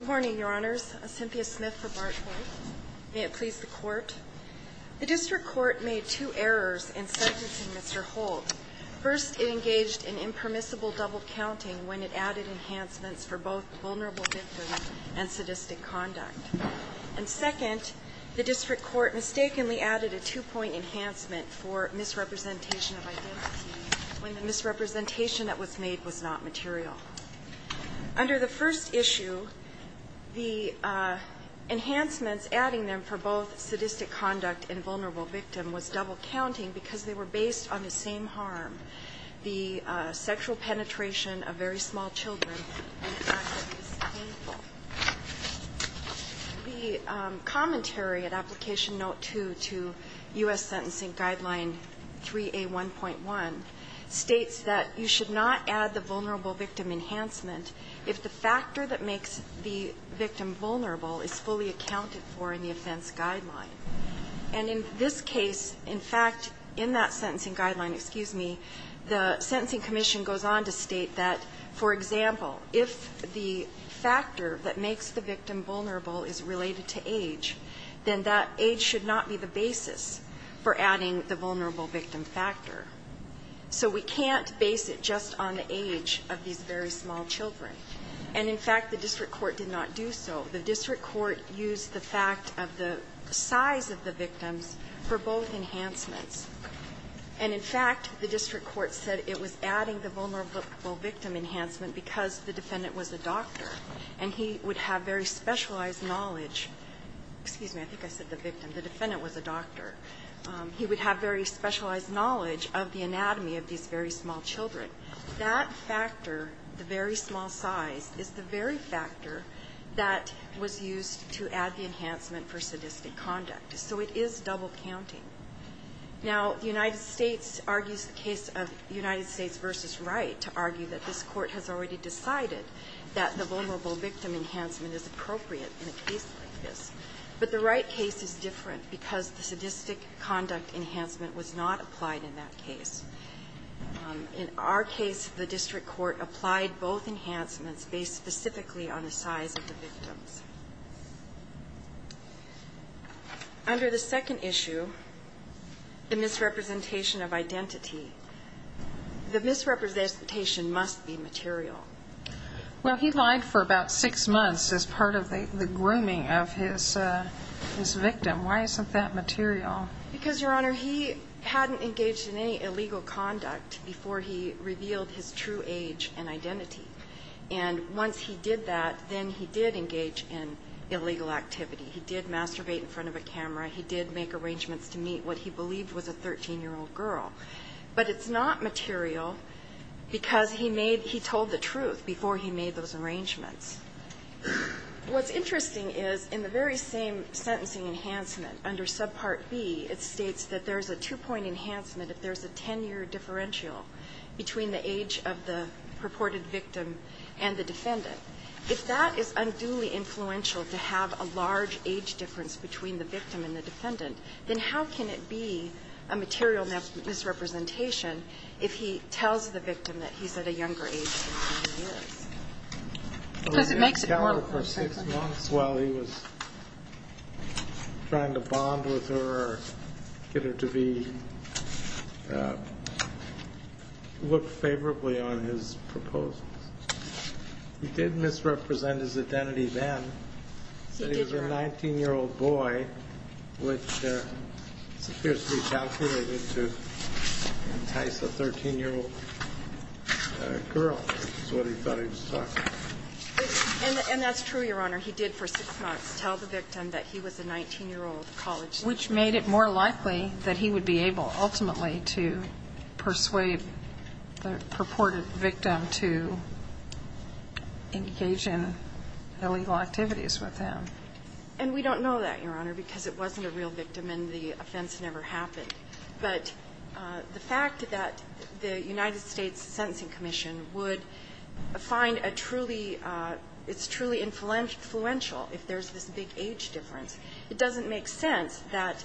Good morning, Your Honors. Cynthia Smith for Bart Court. May it please the Court. The District Court made two errors in sentencing Mr. Holt. First, it engaged in impermissible double-counting when it added enhancements for both vulnerable victims and sadistic conduct. And second, the District Court mistakenly added a two-point enhancement for misrepresentation of identity when the misrepresentation that was made was not material. Under the first issue, the enhancements adding them for both sadistic conduct and vulnerable victim was double-counting because they were based on the same harm, the sexual penetration of very small children and the fact that it was painful. The commentary at Application Note 2 to U.S. Sentencing Guideline 3A1.1 states that you should not add the vulnerable victim enhancement if the factor that makes the victim vulnerable is fully accounted for in the offense guideline. And in this case, in fact, in that sentencing guideline, excuse me, the Sentencing Commission goes on to state that, for example, if the factor that makes the victim vulnerable is related to age, then that age should not be the basis for adding the vulnerable victim factor. So we can't base it just on the age of these very small children. And, in fact, the District Court did not do so. The District Court used the fact of the size of the victims for both enhancements. And, in fact, the District Court said it was adding the vulnerable victim enhancement because the defendant was a doctor, and he would have very specialized knowledge. Excuse me. I think I said the victim. The defendant was a doctor. He would have very specialized knowledge of the anatomy of these very small children. That factor, the very small size, is the very factor that was used to add the enhancement for sadistic conduct. So it is double counting. Now, the United States argues the case of United States v. Wright to argue that this Court has already decided that the vulnerable victim enhancement is appropriate in a case like this. But the Wright case is different because the sadistic conduct enhancement was not applied in that case. In our case, the District Court applied both enhancements based specifically on the size of the victims. Under the second issue, the misrepresentation of identity, the misrepresentation must be material. Well, he lied for about six months as part of the grooming of his victim. Why isn't that material? Because, Your Honor, he hadn't engaged in any illegal conduct before he revealed his true age and identity. And once he did that, then he did engage in illegal activity. He did masturbate in front of a camera. He did make arrangements to meet what he believed was a 13-year-old girl. But it's not material because he made he told the truth before he made those arrangements. What's interesting is in the very same sentencing enhancement under subpart B, it states that there's a two-point enhancement if there's a 10-year differential between the age of the purported victim and the defendant. If that is unduly influential to have a large age difference between the victim and the defendant, then how can it be a material misrepresentation if he tells the victim that he's at a younger age than he is? Because it makes it more appropriate. Well, he was trying to bond with her or get her to look favorably on his proposals. He did misrepresent his identity then. He did, Your Honor. He said he was a 19-year-old boy, which appears to be calculated to entice a 13-year-old girl, is what he thought he was talking about. And that's true, Your Honor. He did for six months tell the victim that he was a 19-year-old college student. Which made it more likely that he would be able ultimately to persuade the purported victim to engage in illegal activities with him. And we don't know that, Your Honor, because it wasn't a real victim and the offense never happened. But the fact that the United States Sentencing Commission would find a truly ‑‑ it's truly influential if there's this big age difference. It doesn't make sense that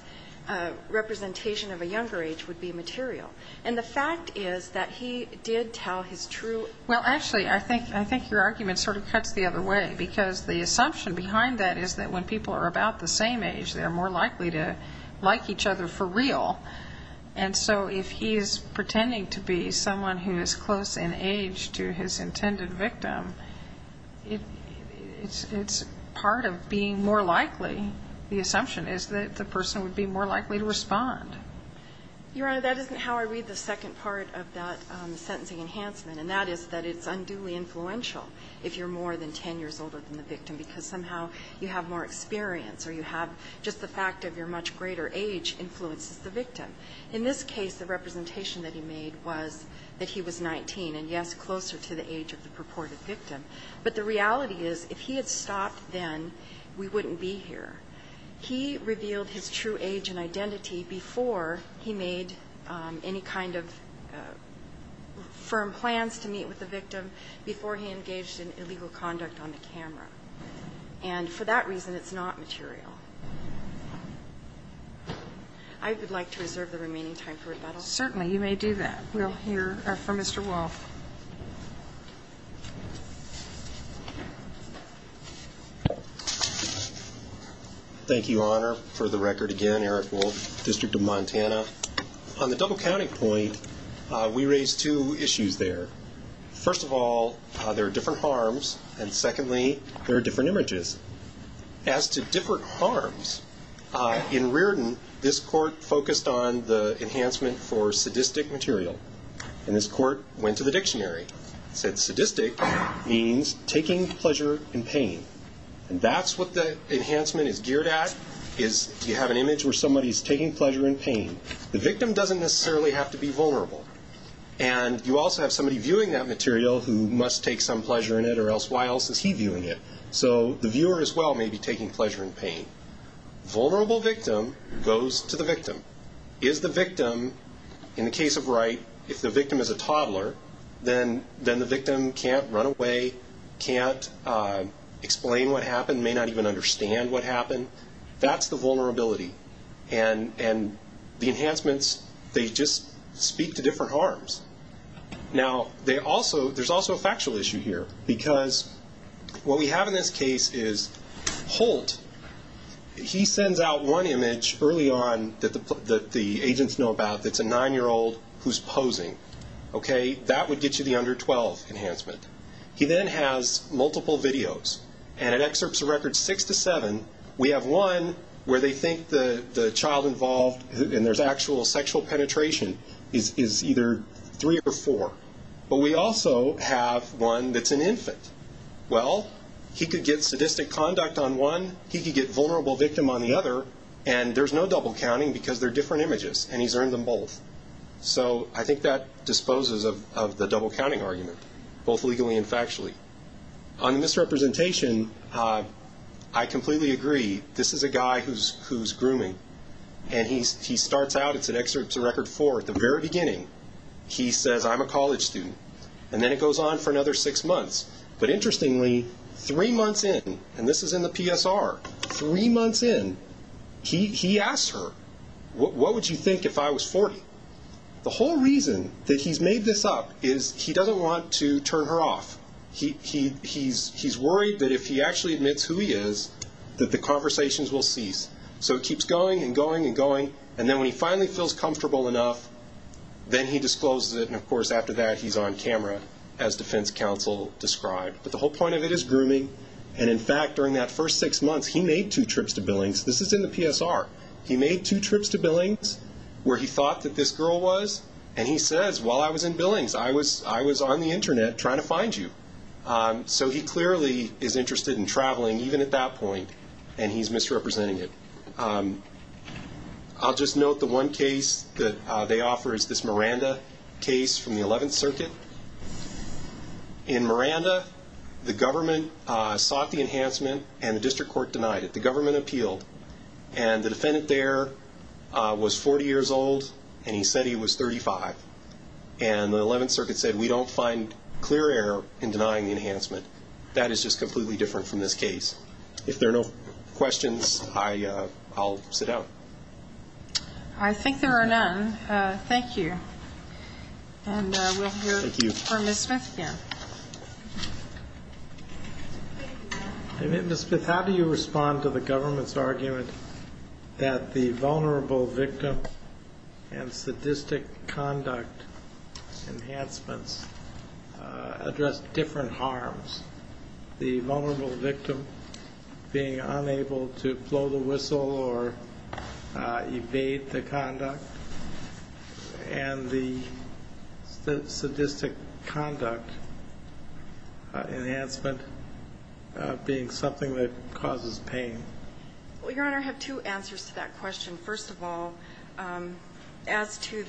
representation of a younger age would be material. And the fact is that he did tell his true ‑‑ Well, actually, I think your argument sort of cuts the other way, because the assumption behind that is that when people are about the same age, they're more likely to like each other for real. And so if he is pretending to be someone who is close in age to his intended victim, it's part of being more likely. The assumption is that the person would be more likely to respond. Your Honor, that isn't how I read the second part of that sentencing enhancement. And that is that it's unduly influential if you're more than ten years older than the victim, because somehow you have more experience or you have just the fact of your much greater age influences the victim. In this case, the representation that he made was that he was 19 and, yes, closer to the age of the purported victim. But the reality is if he had stopped then, we wouldn't be here. He revealed his true age and identity before he made any kind of firm plans to meet with the victim, before he engaged in illegal conduct on the camera. And for that reason, it's not material. I would like to reserve the remaining time for rebuttal. Certainly you may do that. We'll hear from Mr. Wolfe. Thank you, Your Honor, for the record again. Eric Wolfe, District of Montana. On the double counting point, we raised two issues there. First of all, there are different harms, and secondly, there are different images. As to different harms, in Reardon, this court focused on the enhancement for sadistic material. And this court went to the dictionary and said sadistic means taking pleasure in pain. And that's what the enhancement is geared at, is you have an image where somebody is taking pleasure in pain. The victim doesn't necessarily have to be vulnerable. And you also have somebody viewing that material who must take some pleasure in it, or else why else is he viewing it? So the viewer as well may be taking pleasure in pain. Vulnerable victim goes to the victim. Is the victim, in the case of Wright, if the victim is a toddler, then the victim can't run away, can't explain what happened, may not even understand what happened. That's the vulnerability. And the enhancements, they just speak to different harms. Now, there's also a factual issue here, because what we have in this case is Holt, he sends out one image early on that the agents know about that's a 9-year-old who's posing. That would get you the under 12 enhancement. He then has multiple videos, and it excerpts a record 6 to 7. We have one where they think the child involved, and there's actual sexual penetration, is either 3 or 4. But we also have one that's an infant. Well, he could get sadistic conduct on one, he could get vulnerable victim on the other, and there's no double counting because they're different images, and he's earned them both. So I think that disposes of the double counting argument, both legally and factually. On the misrepresentation, I completely agree. This is a guy who's grooming, and he starts out, it's an excerpt to record 4. At the very beginning, he says, I'm a college student. And then it goes on for another six months. But interestingly, three months in, and this is in the PSR, three months in, he asks her, what would you think if I was 40? The whole reason that he's made this up is he doesn't want to turn her off. He's worried that if he actually admits who he is, that the conversations will cease. So it keeps going and going and going. And then when he finally feels comfortable enough, then he discloses it. And, of course, after that, he's on camera, as defense counsel described. But the whole point of it is grooming. And, in fact, during that first six months, he made two trips to Billings. This is in the PSR. He made two trips to Billings where he thought that this girl was. And he says, while I was in Billings, I was on the Internet trying to find you. So he clearly is interested in traveling, even at that point, and he's misrepresenting it. I'll just note the one case that they offer is this Miranda case from the 11th Circuit. In Miranda, the government sought the enhancement and the district court denied it. The government appealed. And the defendant there was 40 years old, and he said he was 35. And the 11th Circuit said, we don't find clear error in denying the enhancement. That is just completely different from this case. If there are no questions, I'll sit down. I think there are none. Thank you. And we'll hear from Ms. Smith again. Ms. Smith, how do you respond to the government's argument that the vulnerable victim and sadistic conduct enhancements address different harms? The vulnerable victim being unable to blow the whistle or evade the conduct, and the sadistic conduct enhancement being something that causes pain. Well, Your Honor, I have two answers to that question. First of all, as to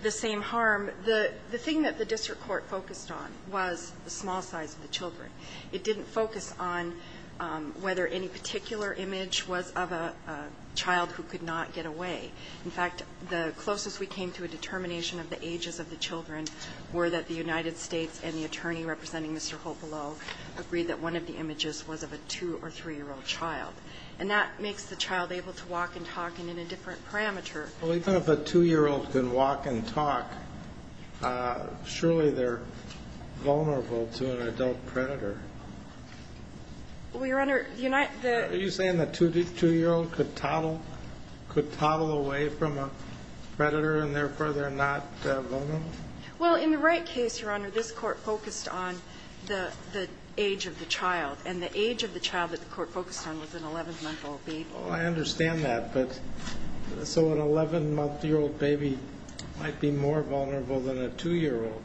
the same harm, the thing that the district court focused on was the small size of the children. It didn't focus on whether any particular image was of a child who could not get away. In fact, the closest we came to a determination of the ages of the children were that the United States and the attorney representing Mr. Hopelow agreed that one of the images was of a 2- or 3-year-old child. And that makes the child able to walk and talk and in a different parameter. Well, even if a 2-year-old can walk and talk, surely they're vulnerable to an adult predator. Well, Your Honor, the United States Are you saying the 2-year-old could toddle away from a predator and therefore they're not vulnerable? Well, in the Wright case, Your Honor, this court focused on the age of the child. And the age of the child that the court focused on was an 11-month-old baby. Oh, I understand that. So an 11-month-old baby might be more vulnerable than a 2-year-old.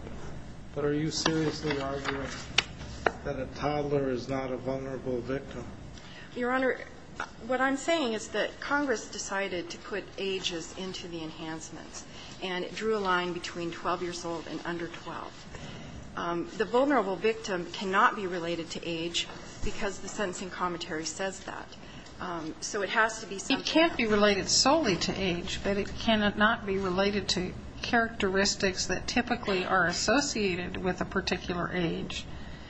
But are you seriously arguing that a toddler is not a vulnerable victim? Your Honor, what I'm saying is that Congress decided to put ages into the enhancements and drew a line between 12 years old and under 12. The vulnerable victim cannot be related to age because the sentencing commentary says that. So it has to be something else. It can't be related solely to age, but it cannot be related to characteristics that typically are associated with a particular age,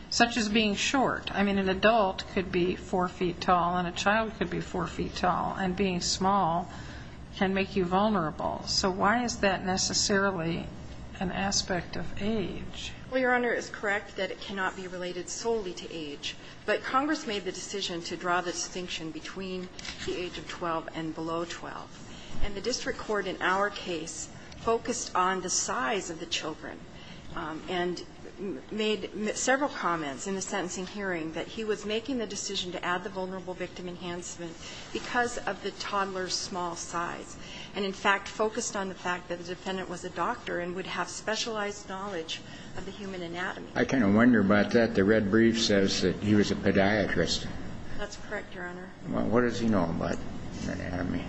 such as being short. I mean, an adult could be 4 feet tall and a child could be 4 feet tall. And being small can make you vulnerable. So why is that necessarily an aspect of age? Well, Your Honor, it's correct that it cannot be related solely to age. But Congress made the decision to draw the distinction between the age of 12 and below 12. And the district court in our case focused on the size of the children and made several comments in the sentencing hearing that he was making the decision to add the vulnerable victim enhancement because of the toddler's small size, and in fact focused on the fact that the defendant was a doctor and would have specialized knowledge of the human anatomy. I kind of wonder about that. The red brief says that he was a podiatrist. That's correct, Your Honor. Well, what does he know about anatomy?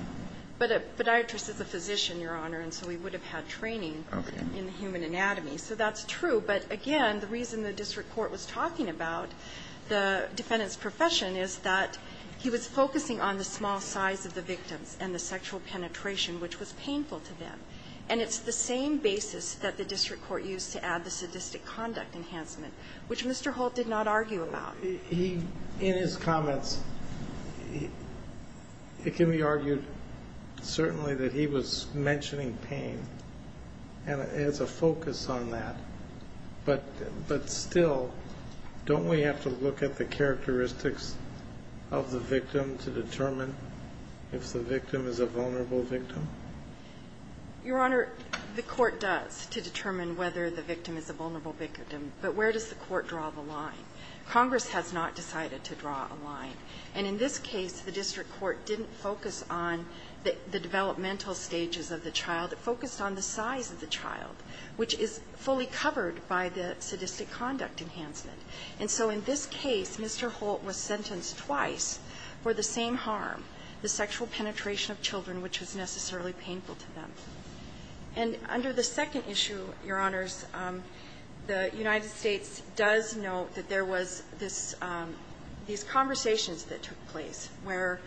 But a podiatrist is a physician, Your Honor, and so he would have had training in human anatomy. So that's true. But, again, the reason the district court was talking about the defendant's profession is that he was focusing on the small size of the victims and the sexual penetration, which was painful to them. And it's the same basis that the district court used to add the sadistic conduct enhancement, which Mr. Holt did not argue about. In his comments, it can be argued certainly that he was mentioning pain as a focus on that, but still, don't we have to look at the characteristics of the victim to determine if the victim is a vulnerable victim? Your Honor, the court does to determine whether the victim is a vulnerable victim, but where does the court draw the line? Congress has not decided to draw a line. And in this case, the district court didn't focus on the developmental stages of the child. It focused on the size of the child, which is fully covered by the sadistic conduct enhancement. And so in this case, Mr. Holt was sentenced twice for the same harm, the sexual penetration of children, which was necessarily painful to them. And under the second issue, Your Honors, the United States does note that there was this ñ these conversations that took place where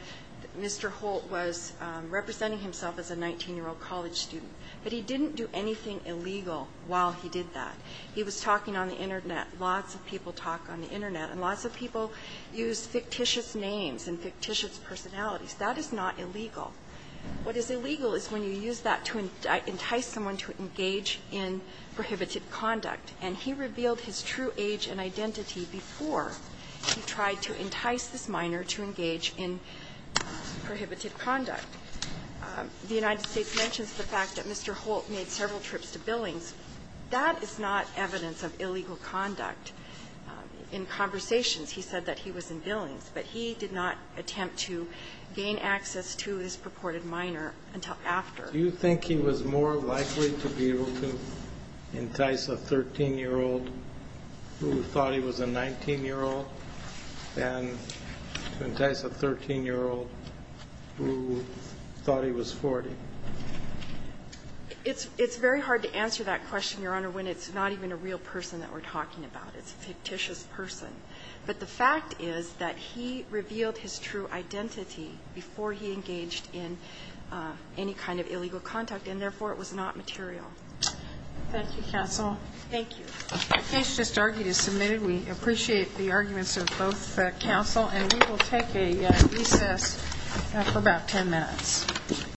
Mr. Holt was representing himself as a 19-year-old college student. But he didn't do anything illegal while he did that. He was talking on the Internet. Lots of people talk on the Internet. And lots of people use fictitious names and fictitious personalities. That is not illegal. What is illegal is when you use that to entice someone to engage in prohibited conduct. And he revealed his true age and identity before he tried to entice this minor to engage in prohibited conduct. The United States mentions the fact that Mr. Holt made several trips to Billings. That is not evidence of illegal conduct. In conversations, he said that he was in Billings, but he did not attempt to gain access to this purported minor until after. Do you think he was more likely to be able to entice a 13-year-old who thought he was a 19-year-old than to entice a 13-year-old who thought he was 40? It's very hard to answer that question, Your Honor, when it's not even a real person that we're talking about. It's a fictitious person. But the fact is that he revealed his true identity before he engaged in any kind of illegal conduct, and therefore, it was not material. Thank you, counsel. Thank you. The case just argued is submitted. We appreciate the arguments of both counsel. And we will take a recess for about 10 minutes.